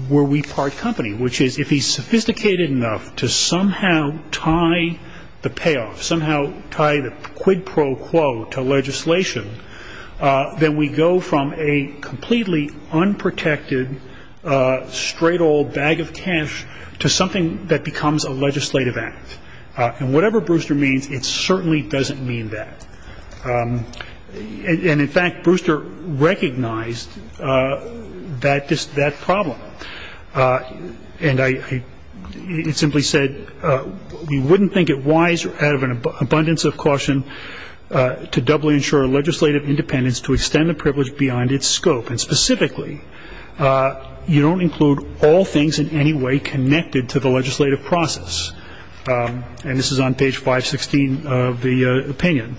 were we part company, which is if he's sophisticated enough to somehow tie the payoff, somehow tie the quid pro quo to legislation, then we go from a completely unprotected, straight old bag of cash to something that becomes a legislative act. And whatever Brewster means, it certainly doesn't mean that. And in fact, Brewster recognized that problem. And I simply said, we wouldn't think it wise out of an abundance of caution to doubling the benefits of a legislative act. The question is, how do we ensure legislative independence to extend the privilege beyond its scope? And specifically, you don't include all things in any way connected to the legislative process. And this is on page 516 of the opinion.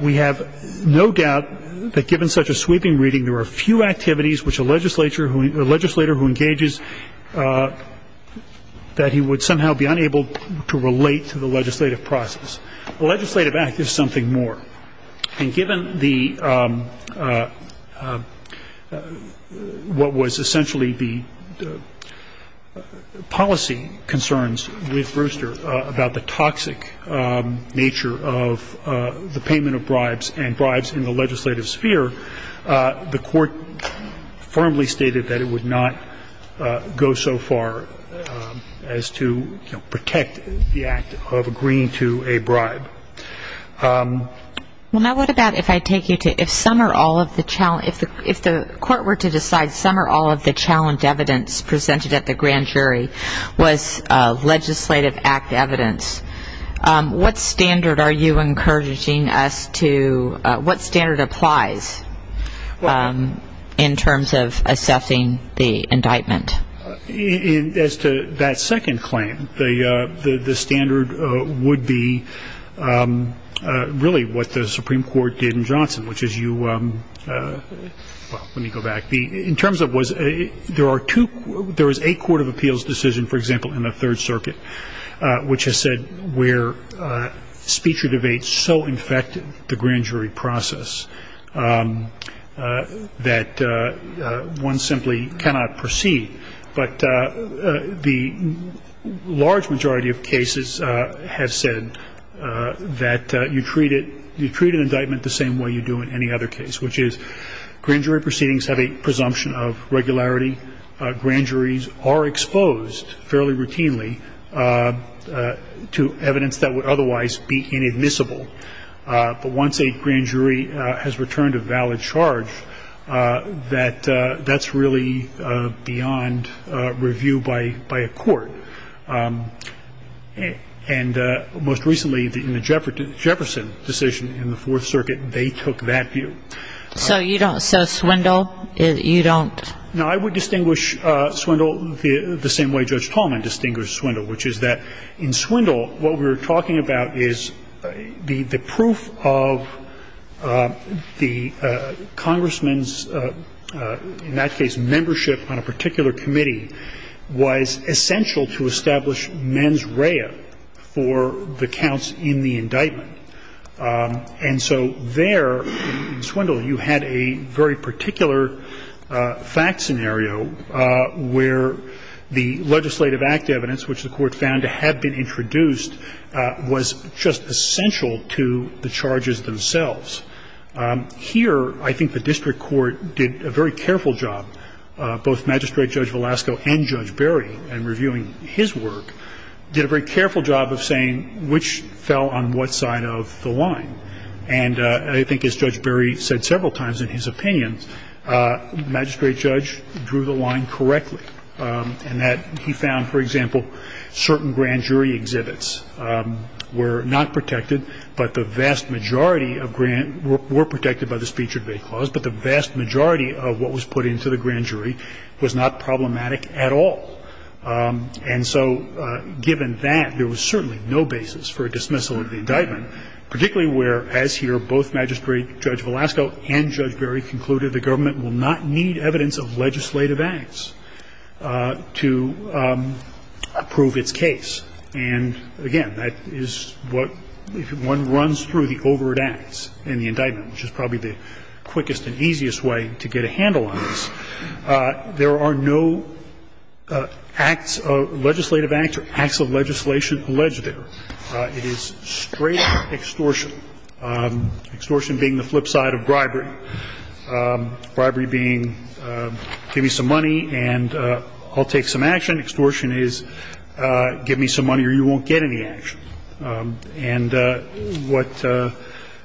We have no doubt that given such a sweeping reading, there are few activities which a legislator who engages, that he would somehow be unable to relate to the legislative process. A legislative act is something more. And given the, what was essentially the policy concerns with Brewster about the toxic nature of the payment of bribes and bribes in the legislative sphere, the court firmly stated that it would not go so far as to protect the act of agreeing to a bribe. Well, now what about if I take you to, if some or all of the, if the court were to decide some or all of the challenge evidence presented at the grand jury was legislative act evidence, what standard are you encouraging us to, what standard applies in terms of assessing the indictment? As to that second claim, the standard would be really what the Supreme Court did in Johnson, which is you, well, let me go back. The, in terms of was, there are two, there is a court of appeals decision, for example, in the Third Circuit, which has said where speech or debate so infected the grand jury process that one simply cannot proceed. But the large majority of cases have said that you treat it, you treat an indictment the same way you do in any other case, which is grand jury proceedings have a presumption of regularity. Grand juries are exposed fairly routinely to evidence that would otherwise be inadmissible. But once a grand jury has returned a valid charge, that that's really beyond review by a court. And most recently in the Jefferson decision in the Fourth Circuit, they took that view. So you don't, so Swindle, you don't? No, I would distinguish Swindle the same way Judge Tallman distinguished Swindle, which is that in Swindle what we were talking about is the proof of the congressman's, in that case, membership on a particular committee was essential to establish mens rea for the counts in the indictment. And so there, in Swindle, you had a very particular fact scenario where the legislative act evidence, which the Court found to have been introduced, was just essential to the charges themselves. Here, I think the district court did a very careful job, both Magistrate Judge Velasco and Judge Berry, in reviewing his work, did a very careful job of saying which fell on what side of the line. And I think, as Judge Berry said several times in his opinions, Magistrate Judge drew the line correctly, in that he found, for example, certain grand jury exhibits were not protected, but the vast majority of grand, were protected by the speech or debate clause, but the vast majority of what was put into the grand jury was not problematic at all. And so, given that, there was certainly no basis for a dismissal of the indictment, particularly where, as here, both Magistrate Judge Velasco and Judge Berry concluded the government will not need evidence of legislative acts to prove its case. And, again, that is what, if one runs through the overt acts in the indictment, which is probably the quickest and easiest way to get a handle on this, there are no acts of legislative acts or acts of legislation alleged there. It is straight extortion, extortion being the flip side of bribery, bribery being, give me some money and I'll take some action. Extortion is, give me some money or you won't get any action. And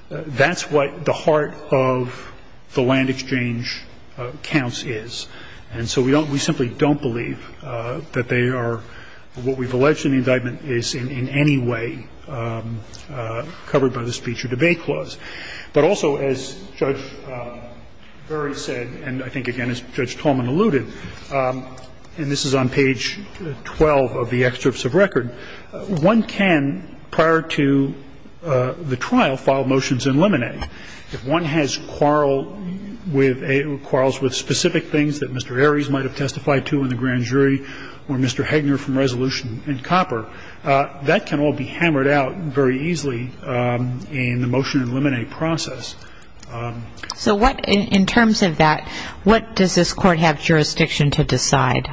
that's what the heart of the land exchange counts is. And so we don't, we simply don't believe that they are, what we've alleged in the indictment is in any way covered by the speech or debate clause. But also, as Judge Berry said, and I think, again, as Judge Tolman alluded, and this is on page 12 of the excerpts of record, one can, prior to the trial, file motions in limine. If one has quarrels with specific things that Mr. Aries might have testified to in the grand jury or Mr. Hegner from Resolution and Copper, that can all be hammered out very easily in the motion in limine process. So what, in terms of that, what does this court have jurisdiction to decide?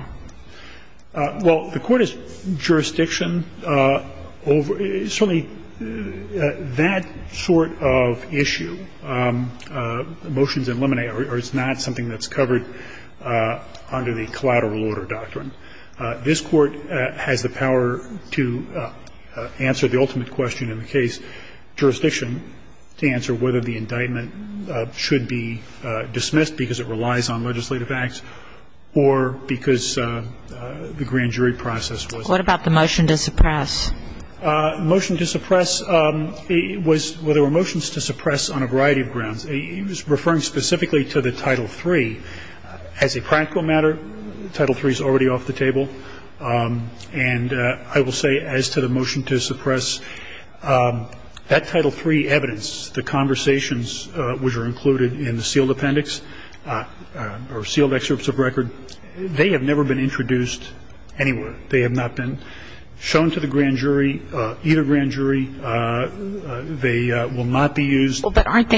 Well, the court has jurisdiction over, certainly that sort of issue, motions in limine or it's not something that's covered under the collateral order doctrine. This court has the power to answer the ultimate question in the case, jurisdiction, to answer whether the indictment should be dismissed because it relies on legislative acts or because the grand jury process was. What about the motion to suppress? The motion to suppress was, well, there were motions to suppress on a variety of grounds. It was referring specifically to the Title III. As a practical matter, Title III is already off the table, and I will say as to the evidence, the conversations which are included in the sealed appendix or sealed excerpts of record, they have never been introduced anywhere. They have not been shown to the grand jury, either grand jury. They will not be used. But aren't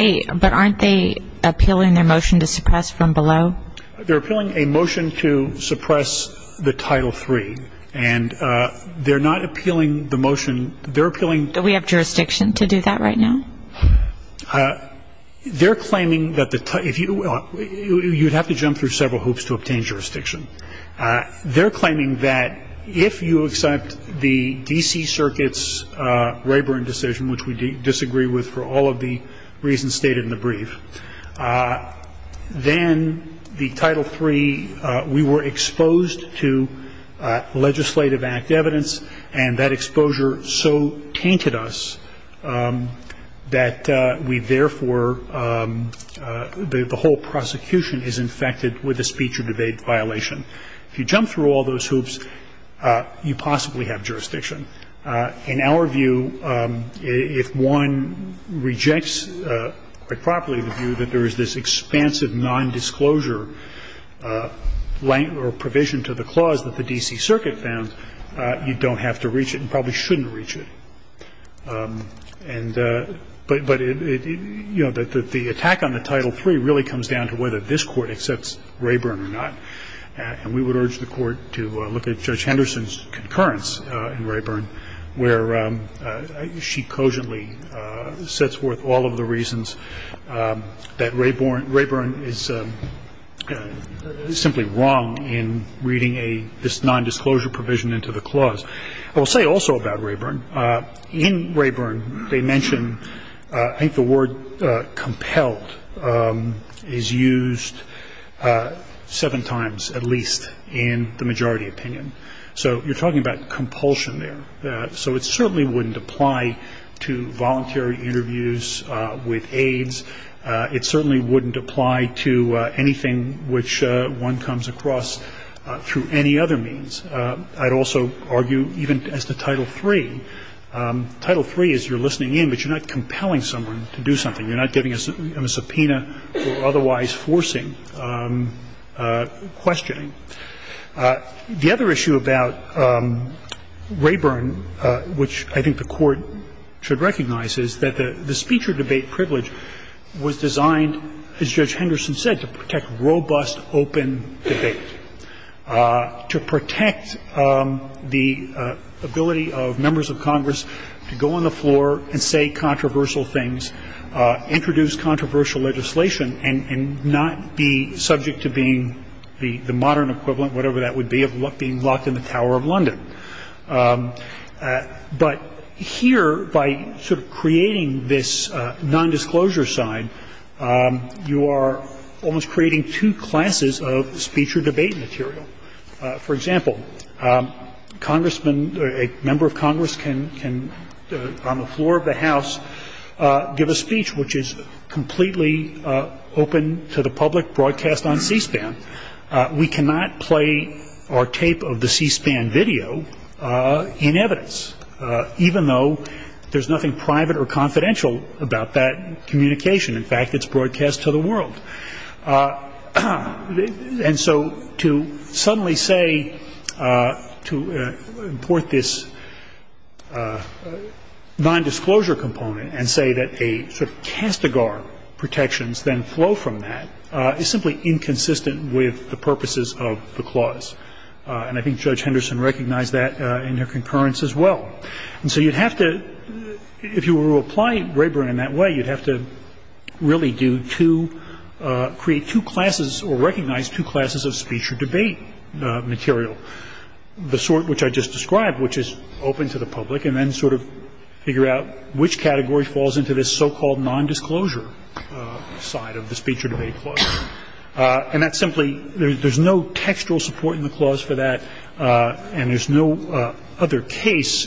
they appealing their motion to suppress from below? They're appealing a motion to suppress the Title III, and they're not appealing the motion. They're appealing. Do we have jurisdiction to do that right now? They're claiming that the, you'd have to jump through several hoops to obtain jurisdiction. They're claiming that if you accept the D.C. Circuit's Rayburn decision, which we disagree with for all of the reasons stated in the brief, then the Title III, we were exposed to legislative act evidence, and that exposure so tainted us that we therefore, the whole prosecution is infected with a speech or debate violation. If you jump through all those hoops, you possibly have jurisdiction. In our view, if one rejects quite properly the view that there is this expansive nondisclosure provision to the clause that the D.C. Circuit found, you don't have to reach it and probably shouldn't reach it. And, but, you know, the attack on the Title III really comes down to whether this Court accepts Rayburn or not. And we would urge the Court to look at Judge Henderson's concurrence in Rayburn, where she cogently sets forth all of the reasons that Rayburn is simply wrong in reading a, this nondisclosure provision into the clause. I will say also about Rayburn, in Rayburn they mention, I think the word compelled is used seven times, at least in the majority opinion. So you're talking about compulsion there. So it certainly wouldn't apply to voluntary interviews with aides. It certainly wouldn't apply to anything which one comes across through any other means. I'd also argue even as to Title III, Title III is you're listening in, but you're not compelling someone to do something. You're not giving them a subpoena or otherwise forcing questioning. The other issue about Rayburn, which I think the Court should recognize, is that the speech or debate privilege was designed, as Judge Henderson said, to protect robust, open debate, to protect the ability of members of Congress to go on the floor and say controversial things, introduce controversial legislation, and not be subject to being the modern equivalent, whatever that would be, of being locked in the Tower of London. But here, by sort of creating this nondisclosure side, you are almost creating two classes of speech or debate material. For example, a member of Congress can, on the floor of the House, give a speech which is completely open to the public, broadcast on C-SPAN. We cannot play or tape of the C-SPAN video in evidence, even though there's nothing private or confidential about that communication. In fact, it's broadcast to the world. And so to suddenly say, to import this nondisclosure component and say that a sort of castigar protections then flow from that is simply inconsistent with the purposes of the clause. And I think Judge Henderson recognized that in her concurrence as well. And so you'd have to, if you were to apply Braeburn in that way, you'd have to really do two, create two classes or recognize two classes of speech or debate material, the sort which I just described, which is open to the public, and then sort of figure out which category falls into this so-called nondisclosure side of the speech or debate clause. And that's simply, there's no textual support in the clause for that, and there's no other case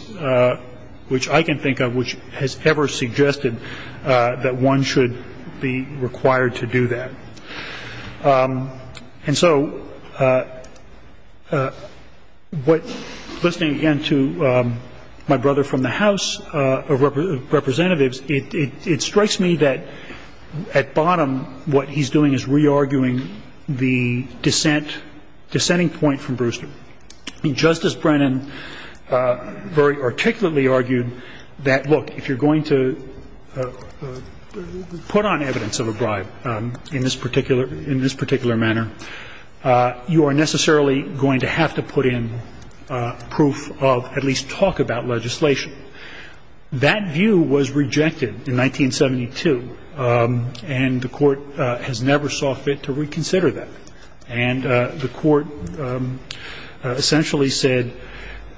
which I can think of which has ever suggested that one should be required to do that. And so what, listening again to my brother from the House of Representatives, it strikes me that at bottom what he's doing is re-arguing the dissent, dissenting point from Brewster. I mean, Justice Brennan very articulately argued that, look, if you're going to put on evidence of a bribe in this particular, in this particular manner, you are necessarily going to have to put in proof of at least talk about legislation. That view was rejected in 1972, and the Court has never saw fit to reconsider that. And the Court essentially said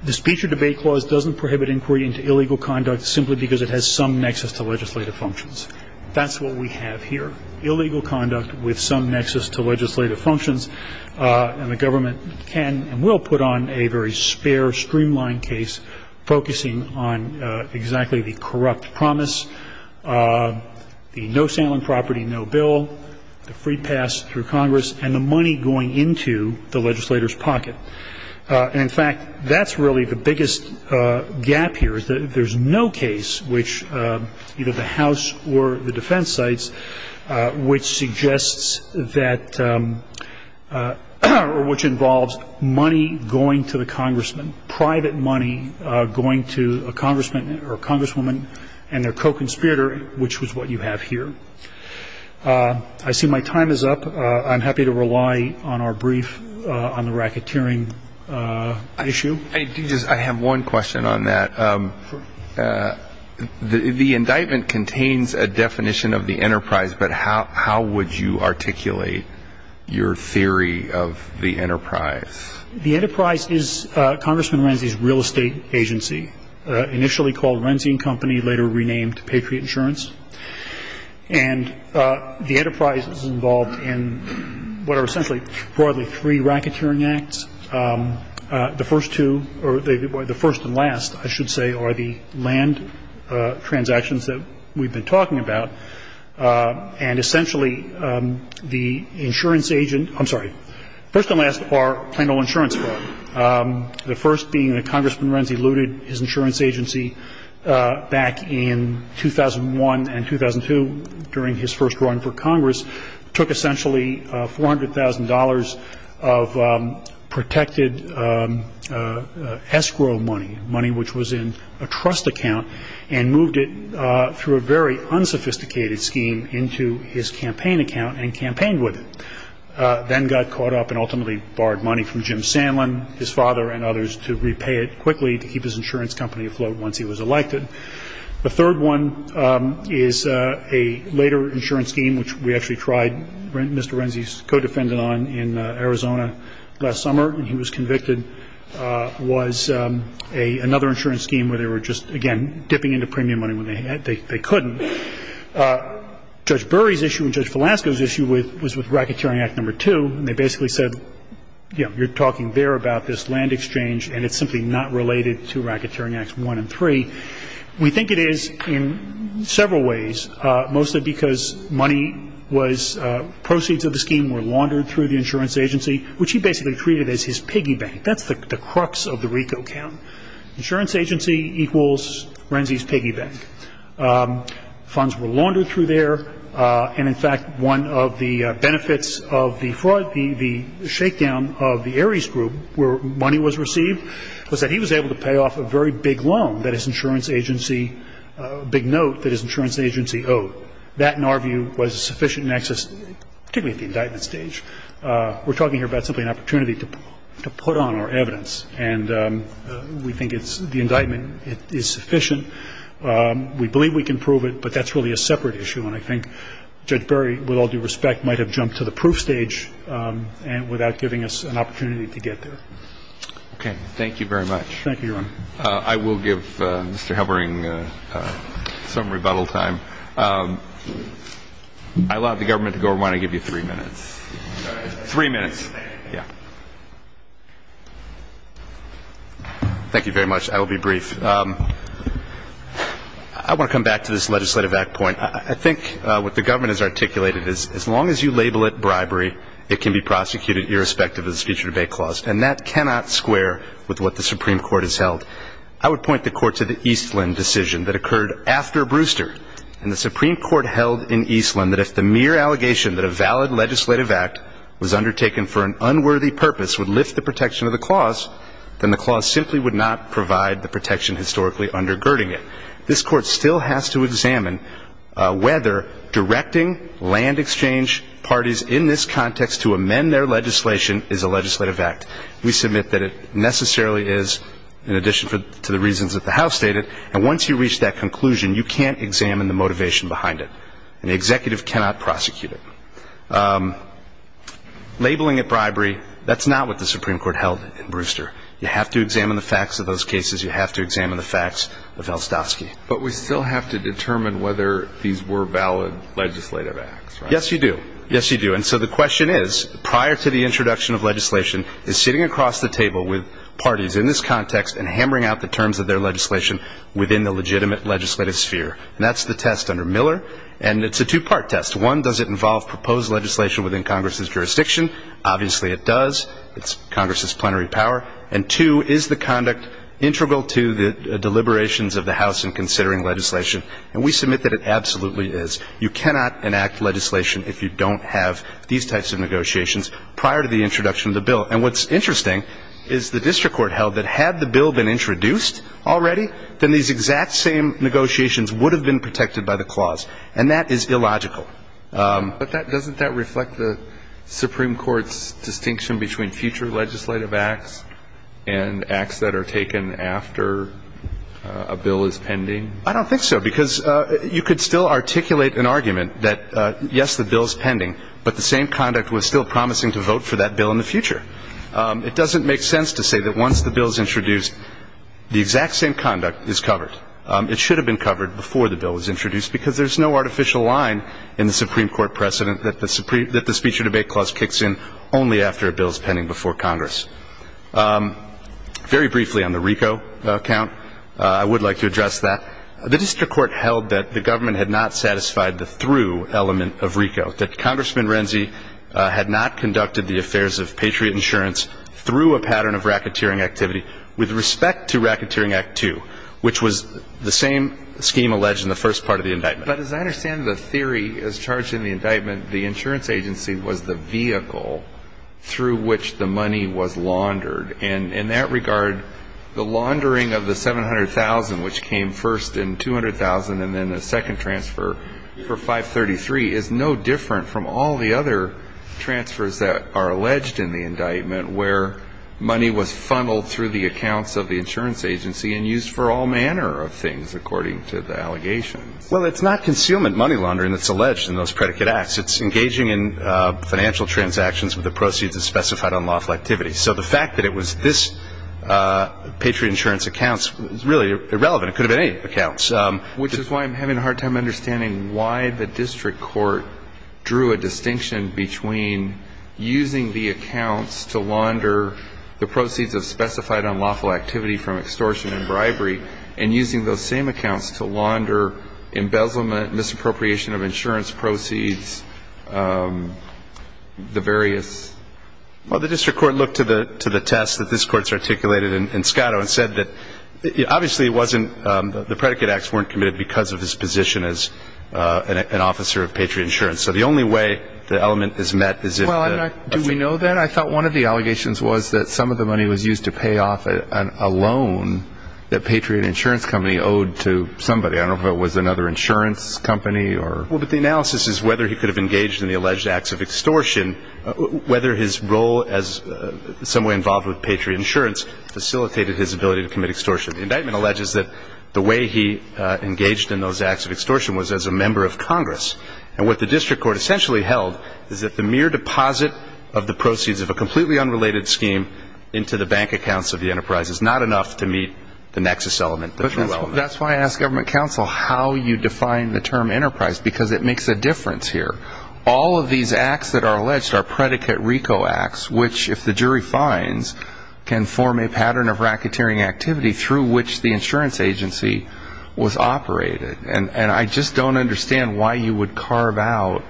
the speech or debate clause doesn't prohibit inquiry into illegal conduct simply because it has some nexus to legislative functions. That's what we have here, illegal conduct with some nexus to legislative functions, and the government can and will put on a very spare, streamlined focusing on exactly the corrupt promise, the no sale on property, no bill, the free pass through Congress, and the money going into the legislator's pocket. And in fact, that's really the biggest gap here is that there's no case which either the House or the defense sites which suggests that, or which involves money going to the congressman, private money going to a congressman or a congresswoman and their co-conspirator, which was what you have here. I see my time is up. I'm happy to rely on our brief on the racketeering issue. I have one question on that. The indictment contains a definition of the enterprise, but how would you articulate your theory of the enterprise? The enterprise is Congressman Renzi's real estate agency, initially called Renzi and Company, later renamed Patriot Insurance. And the enterprise is involved in what are essentially broadly three racketeering acts. The first two, or the first and last, I should say, are the land transactions that we've been talking about. And essentially, the insurance agent, I'm sorry, the first and last are plain old insurance fraud. The first being that Congressman Renzi looted his insurance agency back in 2001 and 2002 during his first run for Congress, took essentially $400,000 of protected escrow money, money which was in a trust account, and moved it through a very unsophisticated scheme into his campaign account and campaigned with it. Then got caught up and ultimately borrowed money from Jim Sandlin, his father, and others to repay it quickly to keep his insurance company afloat once he was elected. The third one is a later insurance scheme which we actually tried Mr. Renzi's co-defendant on in Arizona last summer, and he was convicted, was another insurance scheme where they were just, again, dipping into premium money when they couldn't. Judge Burry's issue and Judge Velasco's issue was with Racketeering Act No. 2, and they basically said, you know, you're talking there about this land exchange and it's simply not related to Racketeering Acts 1 and 3. We think it is in several ways, mostly because money was, proceeds of the scheme were laundered through the insurance agency, which he basically treated as his piggy bank. That's the crux of the RICO account. Insurance agency equals Renzi's account. Funds were laundered through there, and in fact, one of the benefits of the fraud, the shakedown of the Ares Group where money was received, was that he was able to pay off a very big loan that his insurance agency, big note that his insurance agency owed. That, in our view, was sufficient access, particularly at the indictment stage. We're talking here about simply an opportunity to put on our evidence, and we think it's, the indictment is sufficient. We believe we can prove it, but that's really a separate issue, and I think Judge Berry, with all due respect, might have jumped to the proof stage without giving us an opportunity to get there. Okay. Thank you very much. Thank you, Your Honor. I will give Mr. Halbering some rebuttal time. I'll allow the government to go around. I'll give you three minutes. Three minutes. Yeah. Thank you very much. I will be brief. I want to come back to this legislative act point. I think what the government has articulated is as long as you label it bribery, it can be prosecuted irrespective of the speech or debate clause, and that cannot square with what the Supreme Court has held. I would point the Court to the Eastland decision that occurred after Brewster, and the Supreme Court held in Eastland that if the mere allegation that a valid legislative act was undertaken for an unworthy purpose would lift the protection of the clause, then the clause simply would not provide the protection historically undergirding it. This Court still has to examine whether directing land exchange parties in this context to amend their legislation is a legislative act. We submit that it necessarily is, in addition to the reasons that the House stated, and once you reach that conclusion, you can't examine the motivation behind it. An executive cannot prosecute it. Labeling it bribery, that's not what the Supreme Court held in Brewster. You have to examine the facts of those cases. You have to examine the facts of Elstovsky. But we still have to determine whether these were valid legislative acts, right? Yes, you do. Yes, you do. And so the question is, prior to the introduction of legislation, is sitting across the table with parties in this context and hammering out the terms of their legislation within the legitimate legislative sphere. And that's the test under Miller, and it's a two-part test. One, does it involve proposed legislation within Congress's jurisdiction? Obviously it does. It's Congress's plenary power. And two, is the conduct integral to the deliberations of the House in considering legislation? And we submit that it absolutely is. You cannot enact legislation if you don't have these types of negotiations prior to the introduction of the bill. And what's interesting is the district court held that had the bill been introduced already, then these exact same negotiations would have been protected by the clause. And that is illogical. But doesn't that reflect the Supreme Court's distinction between future legislative acts and acts that are taken after a bill is pending? I don't think so. Because you could still articulate an argument that, yes, the bill is pending, but the same conduct was still promising to vote for that bill in the future. It doesn't make sense to say that once the bill is introduced, the exact same conduct is covered. It should have been covered before the bill was introduced, because there's no artificial line in the Supreme Court precedent that the speech or debate clause kicks in only after a bill is pending before Congress. Very briefly on the RICO account, I would like to address that. The district court held that the government had not satisfied the through element of RICO, that Congressman Renzi had not conducted the affairs of patriot insurance through a pattern of racketeering activity with respect to Racketeering Act 2, which was the same scheme alleged in the first part of the indictment. But as I understand the theory as charged in the indictment, the insurance agency was the vehicle through which the money was laundered. And in that regard, the laundering of the $700,000, which came first in $200,000 and then the second transfer for 533, is no different from all the other transfers that are alleged in the indictment where money was funneled through the accounts of the insurance agency and used for all manner of things, according to the allegations. Well, it's not concealment money laundering that's alleged in those predicate acts. It's engaging in financial transactions with the proceeds as specified on lawful activity. So the fact that it was this patriot insurance accounts is really irrelevant. It could have been any accounts. Which is why I'm having a hard time understanding why the district court drew a distinction between using the accounts to launder the proceeds of specified on lawful activity from extortion and bribery and using those same accounts to launder embezzlement, misappropriation of insurance proceeds, the various. Well, the district court looked to the test that this court's articulated in Scotto and said that obviously it wasn't the predicate acts weren't committed because of his position as an officer of patriot insurance. So the only way the element is met is if the. Well, do we know that? I thought one of the allegations was that some of the money was used to pay off a loan that patriot insurance company owed to somebody. I don't know if it was another insurance company or. Well, but the analysis is whether he could have engaged in the alleged acts of extortion, whether his role as someone involved with patriot insurance facilitated his ability to commit extortion. The indictment alleges that the way he engaged in those acts of extortion was as a member of Congress. And what the district court essentially held is that the mere deposit of the proceeds of a completely unrelated scheme into the bank accounts of the enterprise is not enough to meet the nexus element. But that's why I ask government counsel how you define the term enterprise, because it makes a difference here. All of these acts that are alleged are predicate RICO acts, which if the jury finds can form a pattern of racketeering activity through which the insurance agency was operated. And I just don't understand why you would carve out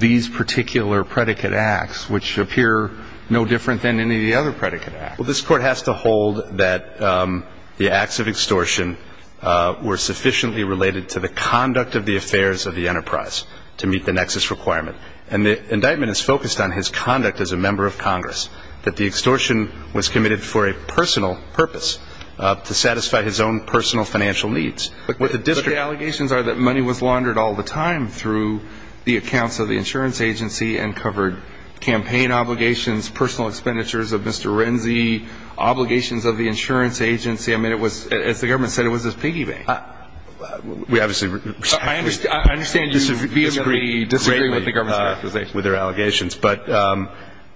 these particular predicate acts, which appear no different than any of the other predicate. Well, this court has to hold that the acts of extortion were sufficiently related to the conduct of the affairs of the enterprise to meet the nexus requirement. And the indictment is focused on his conduct as a member of Congress, that the extortion was committed for a personal purpose to satisfy his own personal financial needs. But the allegations are that money was laundered all the time through the accounts of the insurance agency and covered campaign obligations, personal expenditures of Mr. Renzi, obligations of the insurance agency. I mean, as the government said, it was his piggy bank. I understand you vehemently disagree with the government's characterization. With their allegations. But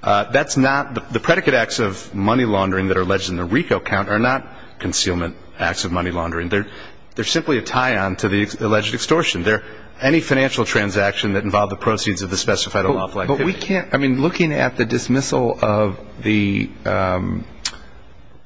that's not the predicate acts of money laundering that are alleged in the RICO count are not concealment acts of money laundering. They're simply a tie-on to the alleged extortion. They're any financial transaction that involved the proceeds of the specified lawful activity. But we can't, I mean, looking at the dismissal of the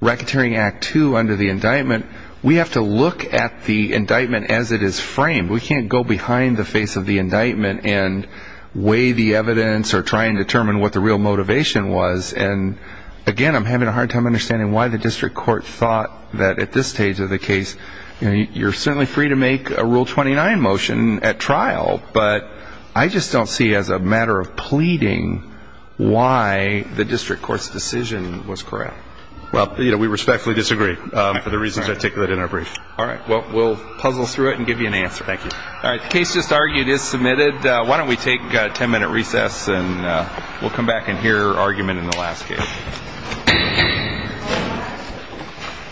Racketeering Act II under the indictment, we have to look at the indictment as it is framed. We can't go behind the face of the indictment and weigh the evidence or try and determine what the real motivation was. And, again, I'm having a hard time understanding why the district court thought that at this stage of the case, you're certainly free to make a Rule 29 motion at trial, but I just don't see as a matter of pleading why the district court's decision was correct. Well, you know, we respectfully disagree for the reasons articulated in our brief. All right. Well, we'll puzzle through it and give you an answer. Thank you. All right. The case just argued is submitted. Why don't we take a 10-minute recess, and we'll come back and hear argument in the last case.